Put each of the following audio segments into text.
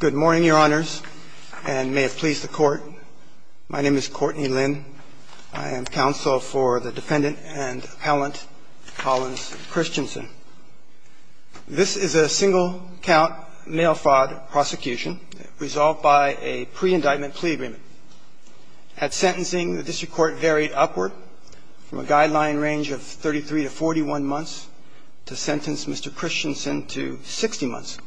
Good morning, Your Honors, and may it please the Court. My name is Courtney Lynn. I am counsel for the defendant and appellant, Collins Christensen. This is a single-count mail fraud prosecution resolved by a pre-indictment plea agreement. At sentencing, the district court varied upward from a guideline range of 33 to 41 months to sentence Mr. Christensen to 60 months,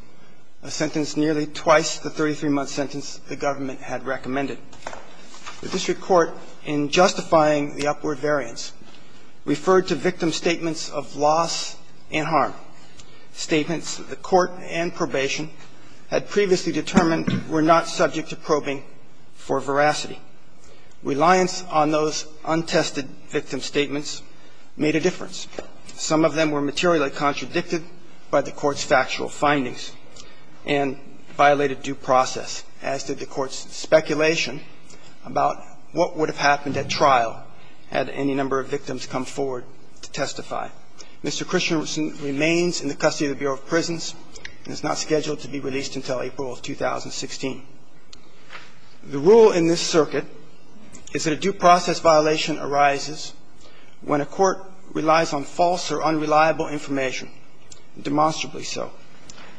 a sentence nearly twice the 33-month sentence the government had recommended. The district court, in justifying the upward variance, referred to victim statements of loss and harm, statements that the court and probation had previously determined were not subject to probing for veracity. Reliance on those untested victim statements made a difference. Some of them were materially contradicted by the court's factual findings and violated due process, as did the court's speculation about what would have happened at trial had any number of victims come forward to testify. Mr. Christensen remains in the custody of the Bureau of Prisons and is not scheduled to be released until April of 2016. The rule in this circuit is that a due process violation arises when a court relies on false or unreliable information, demonstrably so.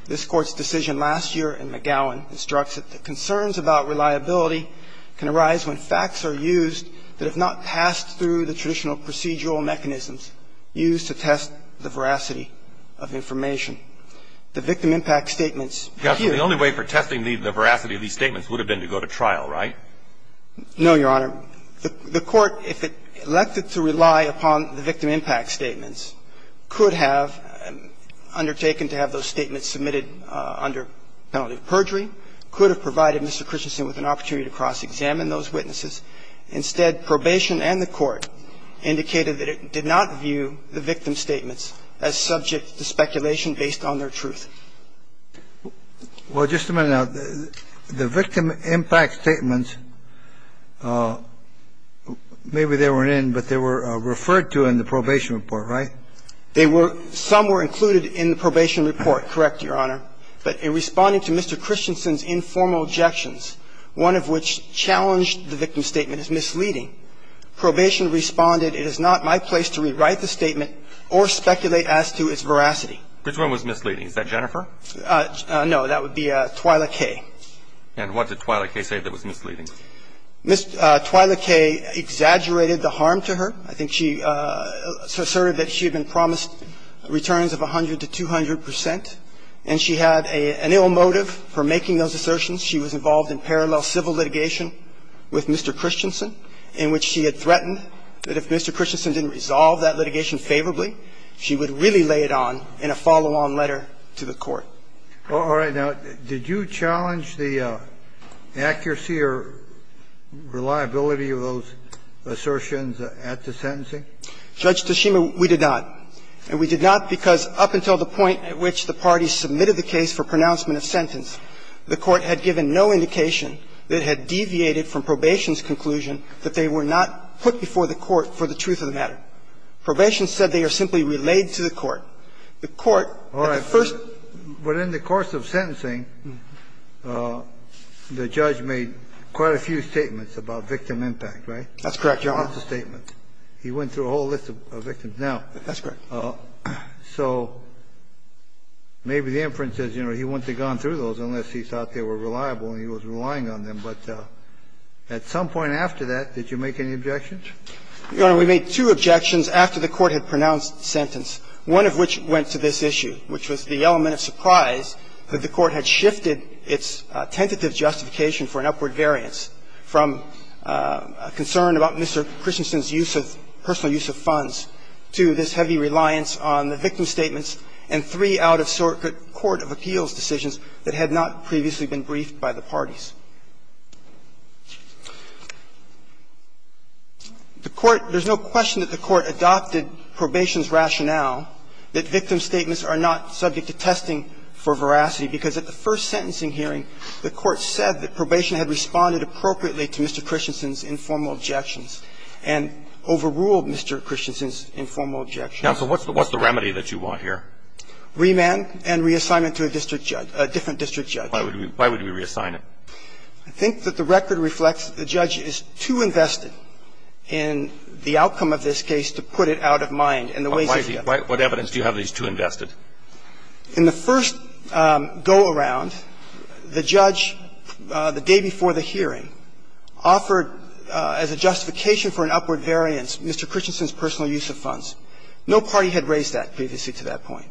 This Court's decision last year in McGowan instructs that the concerns about reliability can arise when facts are used that have not passed through the traditional procedural mechanisms used to test the veracity of information. The victim impact statements appear to be the only way for testing the veracity of these statements would have been to go to trial, right? No, Your Honor. The court, if it elected to rely upon the victim impact statements, could have undertaken to have those statements submitted under penalty of perjury, could have provided Mr. Christensen with an opportunity to cross-examine those witnesses. Instead, probation and the court indicated that it did not view the victim statements as subject to speculation based on their truth. Well, just a minute now. The victim impact statements, maybe they weren't in, but they were referred to in the probation report, right? They were – some were included in the probation report, correct, Your Honor. But in responding to Mr. Christensen's informal objections, one of which challenged the victim statement as misleading, probation responded, it is not my place to rewrite the statement or speculate as to its veracity. Which one was misleading? Is that Jennifer? No, that would be Twyla Kaye. And what did Twyla Kaye say that was misleading? Twyla Kaye exaggerated the harm to her. I think she asserted that she had been promised returns of 100 to 200 percent, and she had an ill motive for making those assertions. She was involved in parallel civil litigation with Mr. Christensen in which she had threatened that if Mr. Christensen didn't resolve that litigation favorably, she would really lay it on in a follow-on letter to the Court. All right. Now, did you challenge the accuracy or reliability of those assertions at the sentencing? Judge Toshima, we did not. And we did not because up until the point at which the parties submitted the case for pronouncement of sentence, the Court had given no indication that it had deviated from probation's conclusion that they were not put before the Court for the truth of the matter. Probation said they are simply relayed to the Court. The Court at the first ---- All right. But in the course of sentencing, the judge made quite a few statements about victim impact, right? That's correct, Your Honor. That's a statement. He went through a whole list of victims now. That's correct. So maybe the inference is, you know, he wouldn't have gone through those unless he thought they were reliable and he was relying on them. But at some point after that, did you make any objections? Your Honor, we made two objections after the Court had pronounced the sentence, one of which went to this issue, which was the element of surprise that the Court had not previously been briefed by the parties. The Court ---- there's no question that the Court adopted probation's rationale that victim statements are not subject to testing for veracity, because at the first sentencing hearing, the Court said that probation had responded appropriately The Court said that probation had responded appropriately to Mr. Christensen's objections and overruled Mr. Christensen's informal objections. Now, so what's the remedy that you want here? Remand and reassignment to a district judge, a different district judge. Why would we reassign him? I think that the record reflects that the judge is too invested in the outcome of this case to put it out of mind in the ways of the evidence. What evidence do you have that he's too invested? In the first go-around, the judge, the day before the hearing, offered as a justification for an upward variance Mr. Christensen's personal use of funds. No party had raised that previously to that point.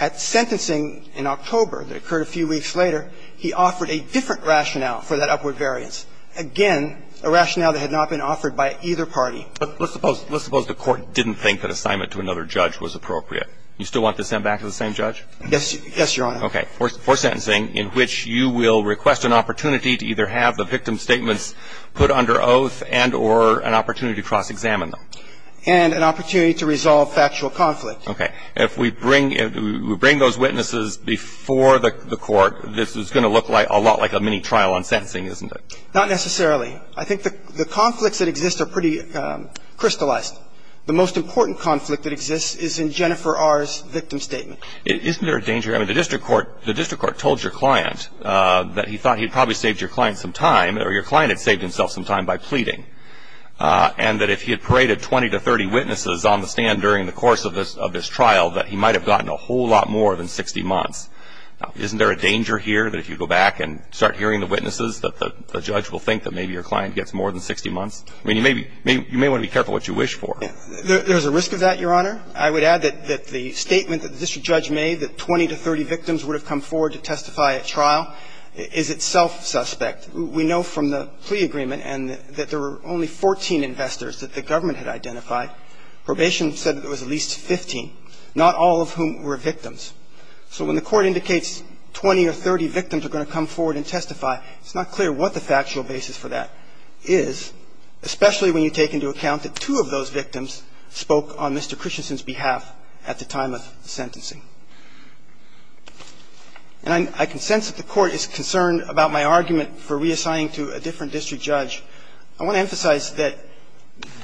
At sentencing in October that occurred a few weeks later, he offered a different rationale for that upward variance, again, a rationale that had not been offered by either party. But let's suppose the Court didn't think that assignment to another judge was appropriate. You still want to send back to the same judge? Yes, Your Honor. Okay. For sentencing in which you will request an opportunity to either have the victim statements put under oath and or an opportunity to cross-examine them. And an opportunity to resolve factual conflict. Okay. If we bring those witnesses before the Court, this is going to look a lot like a mini-trial on sentencing, isn't it? Not necessarily. I think the conflicts that exist are pretty crystallized. The most important conflict that exists is in Jennifer R.'s victim statement. Isn't there a danger? I mean, the district court told your client that he thought he probably saved your client some time or your client had saved himself some time by pleading. And that if he had paraded 20 to 30 witnesses on the stand during the course of this trial, that he might have gotten a whole lot more than 60 months. Now, isn't there a danger here that if you go back and start hearing the witnesses that the judge will think that maybe your client gets more than 60 months? I mean, you may want to be careful what you wish for. There's a risk of that, Your Honor. I would add that the statement that the district judge made, that 20 to 30 victims would have come forward to testify at trial, is itself suspect. We know from the plea agreement and that there were only 14 investors that the government had identified. Probation said there was at least 15, not all of whom were victims. So when the Court indicates 20 or 30 victims are going to come forward and testify, it's not clear what the factual basis for that is, especially when you take into account that two of those victims spoke on Mr. Christensen's behalf at the time of the sentencing. And I can sense that the Court is concerned about my argument for reassigning to a different district judge. I want to emphasize that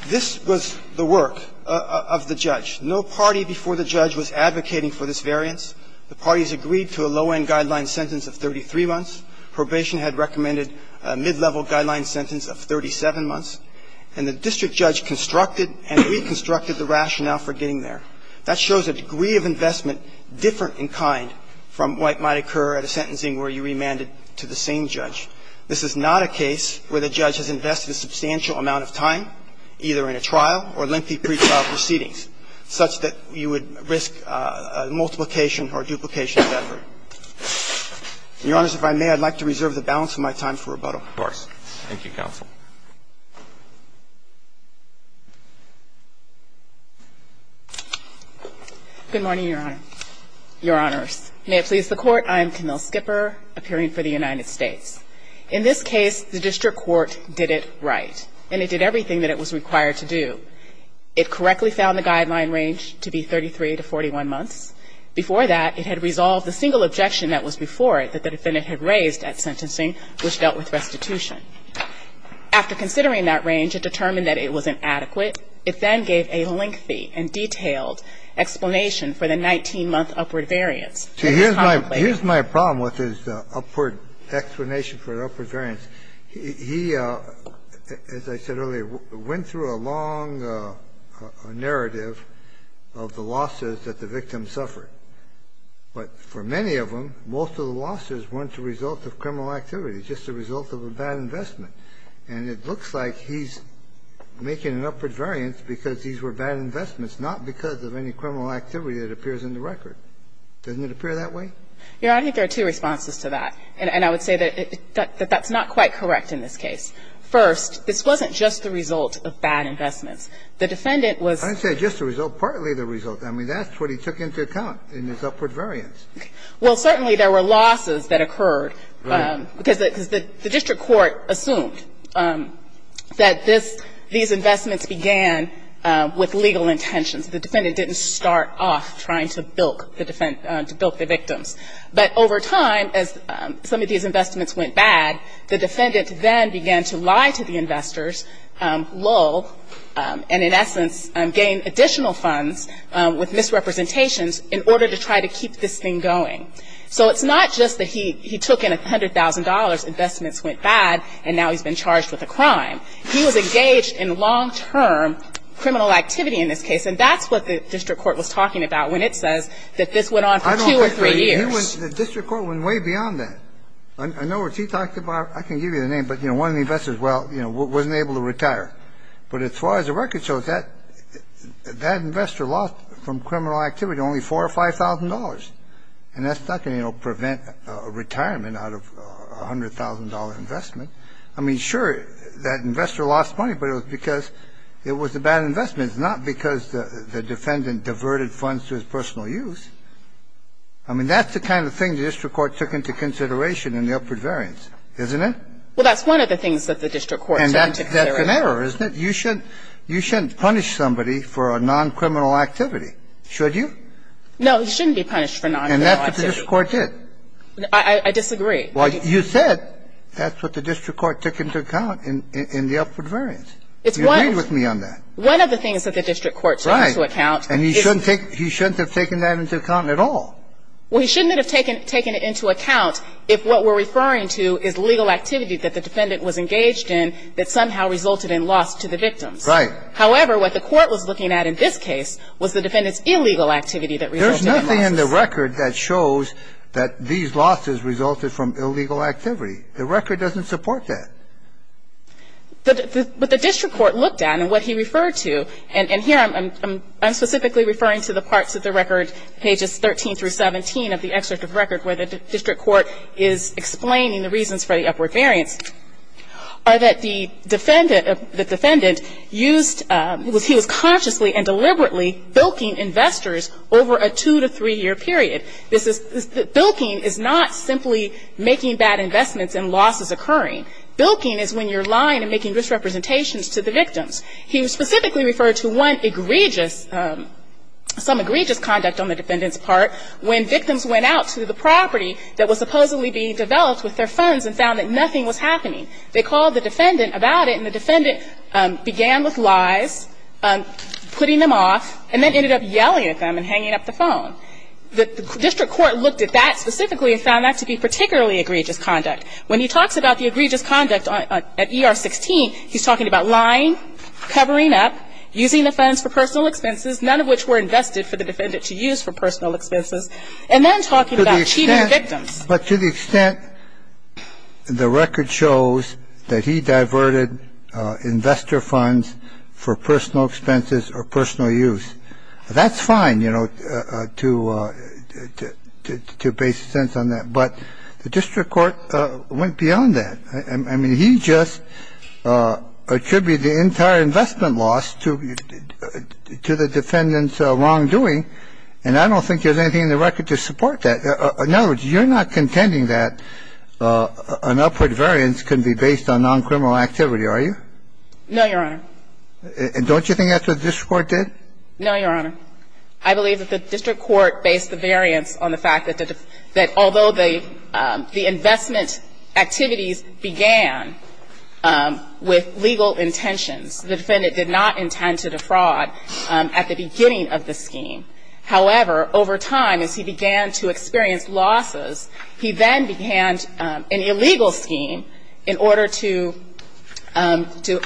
this was the work of the judge. No party before the judge was advocating for this variance. The parties agreed to a low-end guideline sentence of 33 months. Probation had recommended a mid-level guideline sentence of 37 months. And the district judge constructed and reconstructed the rationale for getting there. That shows a degree of investment different in kind from what might occur at a sentencing where you remanded to the same judge. This is not a case where the judge has invested a substantial amount of time, either in a trial or lengthy pretrial proceedings, such that you would risk multiplication or duplication of effort. Your Honors, if I may, I'd like to reserve the balance of my time for rebuttal. Roberts. Roberts. Thank you, counsel. Good morning, Your Honor. Your Honors. May it please the Court, I am Camille Skipper, appearing for the United States. In this case, the district court did it right, and it did everything that it was required to do. It correctly found the guideline range to be 33 to 41 months. Before that, it had resolved the single objection that was before it that the defendant had raised at sentencing, which dealt with restitution. After considering that range, it determined that it wasn't adequate. It then gave a lengthy and detailed explanation for the 19-month upward variance. Here's my problem with his upward explanation for the upward variance. He, as I said earlier, went through a long narrative of the losses that the victim suffered. But for many of them, most of the losses weren't the result of criminal activity, just the result of a bad investment. And it looks like he's making an upward variance because these were bad investments, not because of any criminal activity that appears in the record. Doesn't it appear that way? Your Honor, I think there are two responses to that. And I would say that that's not quite correct in this case. First, this wasn't just the result of bad investments. The defendant was ‑‑ I didn't say just the result. Partly the result. I mean, that's what he took into account in his upward variance. Well, certainly there were losses that occurred because the district court assumed that this ‑‑ these investments began with legal intentions. The defendant didn't start off trying to bilk the victims. But over time, as some of these investments went bad, the defendant then began to lie to the investors, lull, and in essence gain additional funds with misrepresentations in order to try to keep this thing going. So it's not just that he took in $100,000, investments went bad, and now he's been charged with a crime. He was engaged in long‑term criminal activity in this case. And that's what the district court was talking about when it says that this went on for two or three years. The district court went way beyond that. I know what he talked about. I can give you the name. But, you know, one of the investors, well, you know, wasn't able to retire. But as far as the record shows, that investor lost from criminal activity only $4,000 or $5,000. And that's not going to, you know, prevent a retirement out of a $100,000 investment. I mean, sure, that investor lost money, but it was because it was a bad investment. It's not because the defendant diverted funds to his personal use. I mean, that's the kind of thing the district court took into consideration in the upward variance, isn't it? Well, that's one of the things that the district court took into consideration. And that's an error, isn't it? You shouldn't punish somebody for a noncriminal activity, should you? No, he shouldn't be punished for noncriminal activity. And that's what the district court did. I disagree. Well, you said that's what the district court took into account in the upward variance. It's one of ‑‑ You agreed with me on that. One of the things that the district court took into account is ‑‑ Right. And he shouldn't have taken that into account at all. Well, he shouldn't have taken it into account if what we're referring to is legal activity that the defendant was engaged in that somehow resulted in loss to the victims. Right. However, what the court was looking at in this case was the defendant's illegal activity that resulted in losses. There's nothing in the record that shows that these losses resulted from illegal activity. The record doesn't support that. But the district court looked at and what he referred to, and here I'm specifically referring to the parts of the record, pages 13 through 17 of the excerpt of the record where the district court is explaining the reasons for the upward variance, are that the defendant used ‑‑ he was consciously and deliberately bilking investors over a two‑to‑three‑year period. Bilking is not simply making bad investments and losses occurring. Bilking is when you're lying and making misrepresentations to the victims. He specifically referred to one egregious ‑‑ some egregious conduct on the defendant's part when victims went out to the property that was supposedly being developed with their funds and found that nothing was happening. They called the defendant about it, and the defendant began with lies, putting them off, and then ended up yelling at them and hanging up the phone. The district court looked at that specifically and found that to be particularly egregious conduct. When he talks about the egregious conduct at ER 16, he's talking about lying, covering up, using the funds for personal expenses, none of which were invested for the defendant to use for personal expenses, and then talking about cheating victims. But to the extent the record shows that he diverted investor funds for personal expenses or personal use, that's fine, you know, to base a sense on that. But the district court went beyond that. I mean, he just attributed the entire investment loss to the defendant's wrongdoing, and I don't think there's anything in the record to support that. In other words, you're not contending that an upward variance can be based on noncriminal activity, are you? No, Your Honor. Don't you think that's what the district court did? No, Your Honor. I believe that the district court based the variance on the fact that although the investment activities began with legal intentions, the defendant did not intend to defraud at the beginning of the scheme. However, over time, as he began to experience losses, he then began an illegal scheme in order to do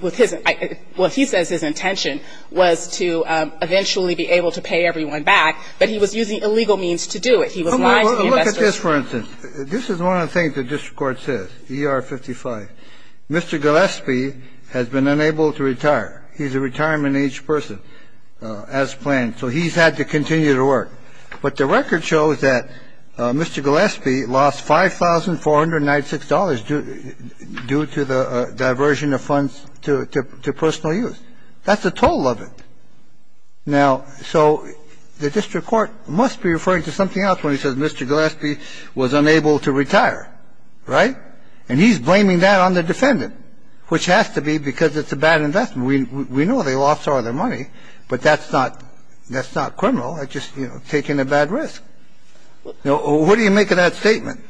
with his – what he says his intention was to eventually be able to pay everyone back, but he was using illegal means to do it. He was lying to the investors. Well, look at this, for instance. This is one of the things the district court says, ER 55. Mr. Gillespie has been unable to retire. He's a retirement-age person, as planned. So he's had to continue to work. But the record shows that Mr. Gillespie lost $5,496 due to the diversion of funds to personal use. That's the total of it. Now, so the district court must be referring to something else when he says Mr. Gillespie was unable to retire, right? And he's blaming that on the defendant, which has to be because it's a bad investment. We know they lost all their money, but that's not criminal. That's just, you know, taking a bad risk. What do you make of that statement?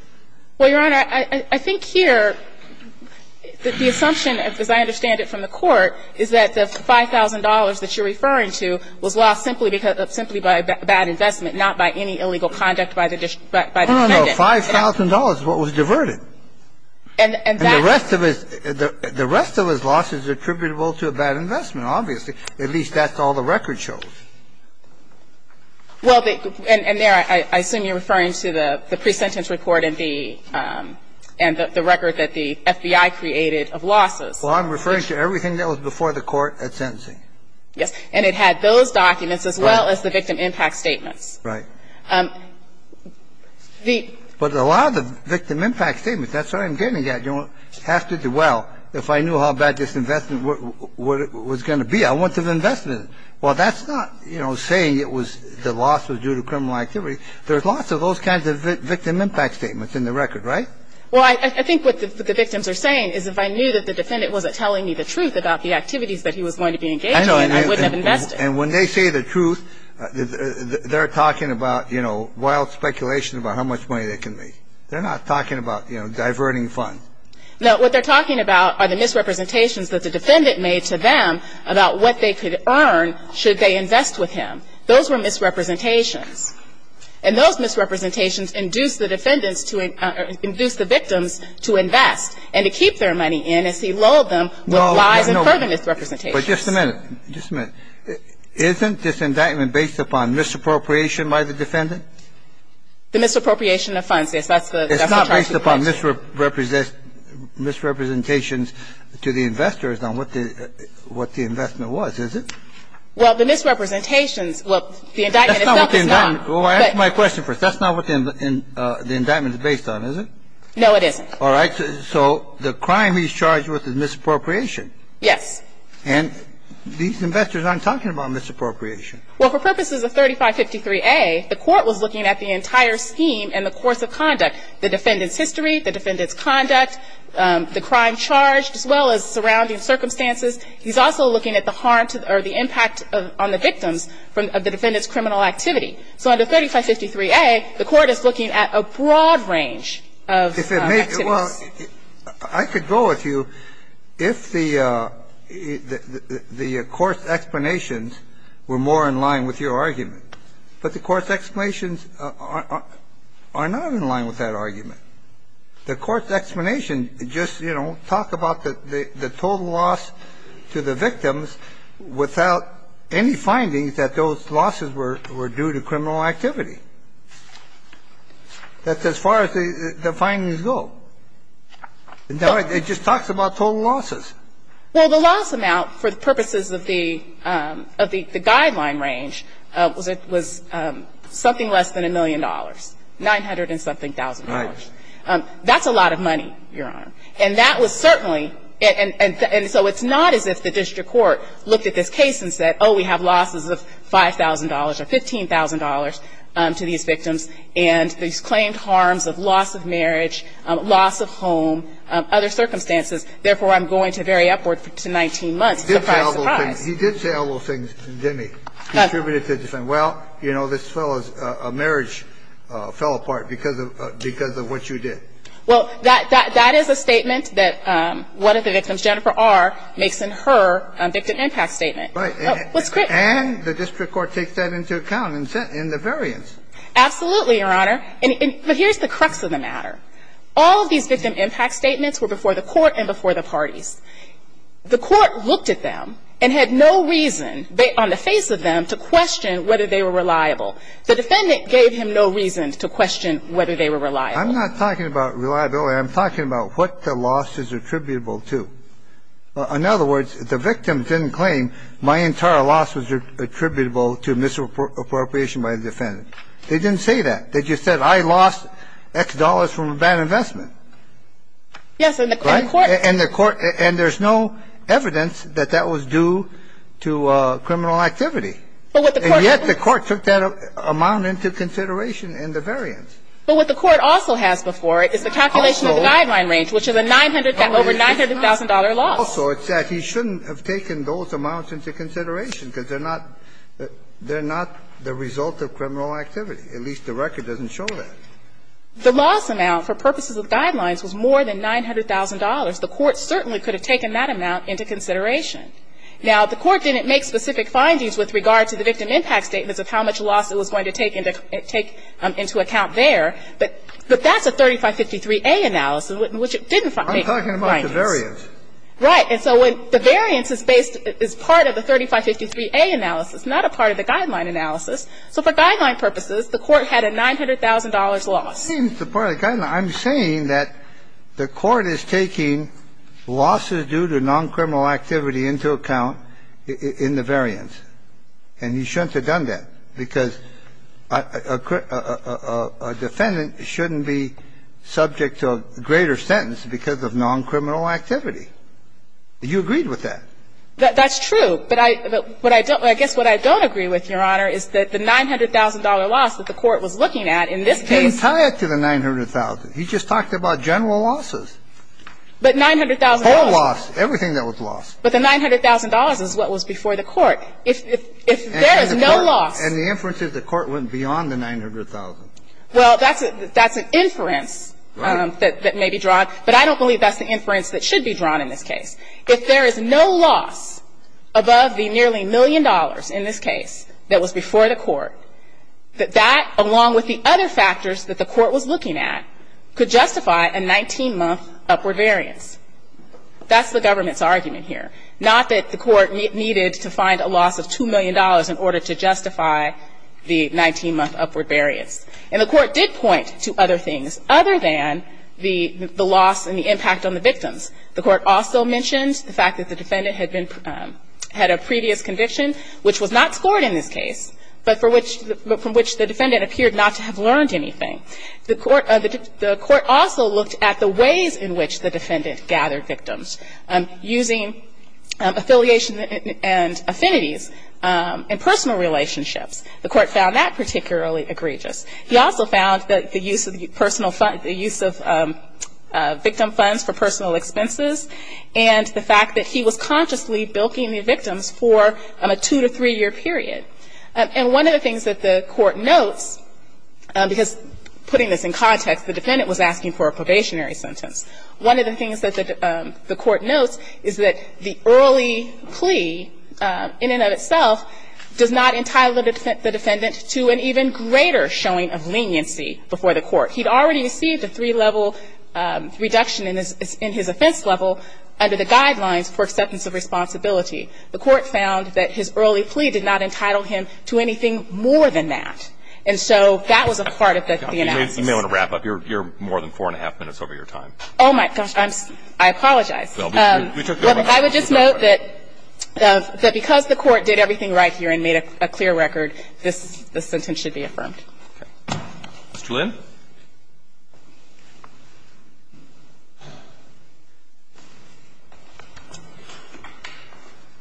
Well, Your Honor, I think here that the assumption, as I understand it from the court, is that the $5,000 that you're referring to was lost simply by a bad investment, not by any illegal conduct by the defendant. No, no, no. $5,000 is what was diverted. And that's – And the rest of his loss is attributable to a bad investment, obviously. At least that's all the record shows. Well, and there I assume you're referring to the pre-sentence report and the record that the FBI created of losses. Well, I'm referring to everything that was before the court at sentencing. Yes. And it had those documents as well as the victim impact statements. Right. The – But a lot of the victim impact statements, that's what I'm getting at. You don't have to do, well, if I knew how bad this investment was going to be, I wouldn't have invested it. Well, that's not, you know, saying it was – the loss was due to criminal activity. There's lots of those kinds of victim impact statements in the record, right? Well, I think what the victims are saying is if I knew that the defendant wasn't telling me the truth about the activities that he was going to be engaged in, I wouldn't have invested. And when they say the truth, they're talking about, you know, wild speculation about how much money they can make. They're not talking about, you know, diverting funds. No, what they're talking about are the misrepresentations that the defendant made to them about what they could earn should they invest with him. Those were misrepresentations. And those misrepresentations induced the defendants to – or induced the victims to invest and to keep their money in as he lulled them with lies and pervenant misrepresentations. But just a minute. Just a minute. Isn't this indictment based upon misappropriation by the defendant? The misappropriation of funds, yes. That's the charge. Based upon misrepresentations to the investors on what the investment was, is it? Well, the misrepresentations – well, the indictment itself is not. Well, answer my question first. That's not what the indictment is based on, is it? No, it isn't. All right. So the crime he's charged with is misappropriation. Yes. And these investors aren't talking about misappropriation. Well, for purposes of 3553A, the Court was looking at the entire scheme and the course of conduct, the defendant's history, the defendant's conduct, the crime charged, as well as surrounding circumstances. He's also looking at the harm or the impact on the victims from the defendant's criminal activity. So under 3553A, the Court is looking at a broad range of activities. Well, I could go with you if the course explanations were more in line with your argument. But the course explanations are not in line with that argument. The course explanations just, you know, talk about the total loss to the victims without any findings that those losses were due to criminal activity. That's as far as the findings go. In other words, it just talks about total losses. Well, the loss amount, for the purposes of the guideline range, was something less than a million dollars, 900-and-something thousand dollars. Right. That's a lot of money, Your Honor. And that was certainly — and so it's not as if the district court looked at this case and said, oh, we have losses of $5,000 or $15,000 to these victims, and these claimed harms of loss of marriage, loss of home, other circumstances, therefore, I'm going to vary upward to 19 months. Surprise, surprise. He did say all those things, didn't he? Contributed to the defendant. Well, you know, this fellow's marriage fell apart because of what you did. Well, that is a statement that one of the victims, Jennifer R., makes in her victim impact statement. Right. And the district court takes that into account in the variance. Absolutely, Your Honor. But here's the crux of the matter. All of these victim impact statements were before the court and before the parties. The court looked at them and had no reason on the face of them to question whether they were reliable. The defendant gave him no reason to question whether they were reliable. I'm not talking about reliability. I'm talking about what the loss is attributable to. In other words, the victim didn't claim my entire loss was attributable to misappropriation by the defendant. They didn't say that. They just said I lost X dollars from a bad investment. Yes. And the court. And the court. And there's no evidence that that was due to criminal activity. And yet the court took that amount into consideration in the variance. But what the court also has before it is the calculation of the guideline range, which is a 900, over $900,000 loss. Also, it's that he shouldn't have taken those amounts into consideration because they're not the result of criminal activity. At least the record doesn't show that. The loss amount for purposes of guidelines was more than $900,000. The court certainly could have taken that amount into consideration. Now, the court didn't make specific findings with regard to the victim impact statements of how much loss it was going to take into account there. But that's a 3553A analysis, which didn't make findings. I'm talking about the variance. Right. And so when the variance is based as part of the 3553A analysis, not a part of the guideline analysis. So for guideline purposes, the court had a $900,000 loss. The part of the guideline, I'm saying that the court is taking losses due to non-criminal activity into account in the variance. And he shouldn't have done that because a defendant shouldn't be subject to a greater sentence because of non-criminal activity. You agreed with that. That's true. But I guess what I don't agree with, Your Honor, is that the $900,000 loss that the court was looking at in this case. He didn't tie it to the $900,000. He just talked about general losses. But $900,000. Total loss. Everything that was lost. But the $900,000 is what was before the court. If there is no loss. And the inference is the court went beyond the $900,000. Well, that's an inference that may be drawn, but I don't believe that's the inference that should be drawn in this case. If there is no loss above the nearly million dollars in this case that was before the court, that that, along with the other factors that the court was looking at, could justify a 19-month upward variance. That's the government's argument here. Not that the court needed to find a loss of $2 million in order to justify the 19-month upward variance. And the court did point to other things other than the loss and the impact on the victims. The court also mentioned the fact that the defendant had been, had a previous conviction which was not scored in this case, but for which, from which the defendant appeared not to have learned anything. The court, the court also looked at the ways in which the defendant gathered victims using affiliation and affinities and personal relationships. The court found that particularly egregious. He also found that the use of personal, the use of victim funds for personal expenses and the fact that he was consciously bilking the victims for a two- to three-year period. And one of the things that the court notes, because putting this in context, the defendant was asking for a probationary sentence. One of the things that the court notes is that the early plea in and of itself does not entitle the defendant to an even greater showing of leniency before the court. He'd already received a three-level reduction in his offense level under the guidelines for acceptance of responsibility. The court found that his early plea did not entitle him to anything more than that. And so that was a part of the analysis. You may want to wrap up. You're more than four and a half minutes over your time. Oh, my gosh. I apologize. I would just note that because the court did everything right here and made a clear record, this sentence should be affirmed. Okay. Mr. Lin.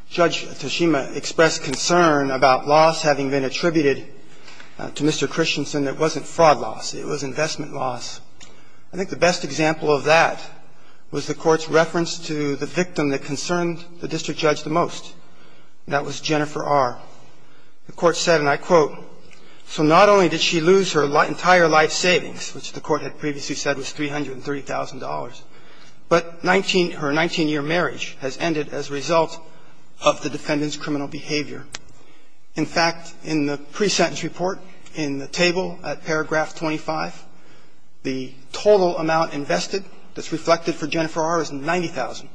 Judge Toshima expressed concern about loss having been attributed to Mr. Christensen. It wasn't fraud loss. It was investment loss. I think the best example of that was the Court's reference to the victim that concerned the district judge the most. And that was Jennifer R. The Court said, and I quote, So not only did she lose her entire life savings, which the Court had previously said was $330,000, but her 19-year marriage has ended as a result of the defendant's criminal behavior. In fact, in the pre-sentence report in the table at paragraph 25, the total amount invested that's reflected for Jennifer R. is 90,000.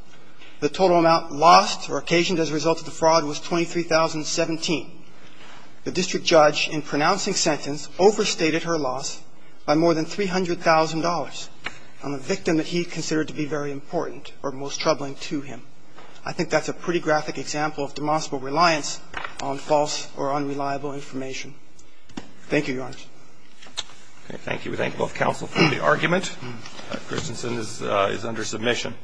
The total amount lost or occasioned as a result of the fraud was 23,017. The district judge in pronouncing sentence overstated her loss by more than $300,000 on the victim that he considered to be very important or most troubling to him. I think that's a pretty graphic example of demonstrable reliance on false or unreliable information. Thank you, Your Honors. Okay. Thank you. We thank both counsel for the argument. Christensen is under submission.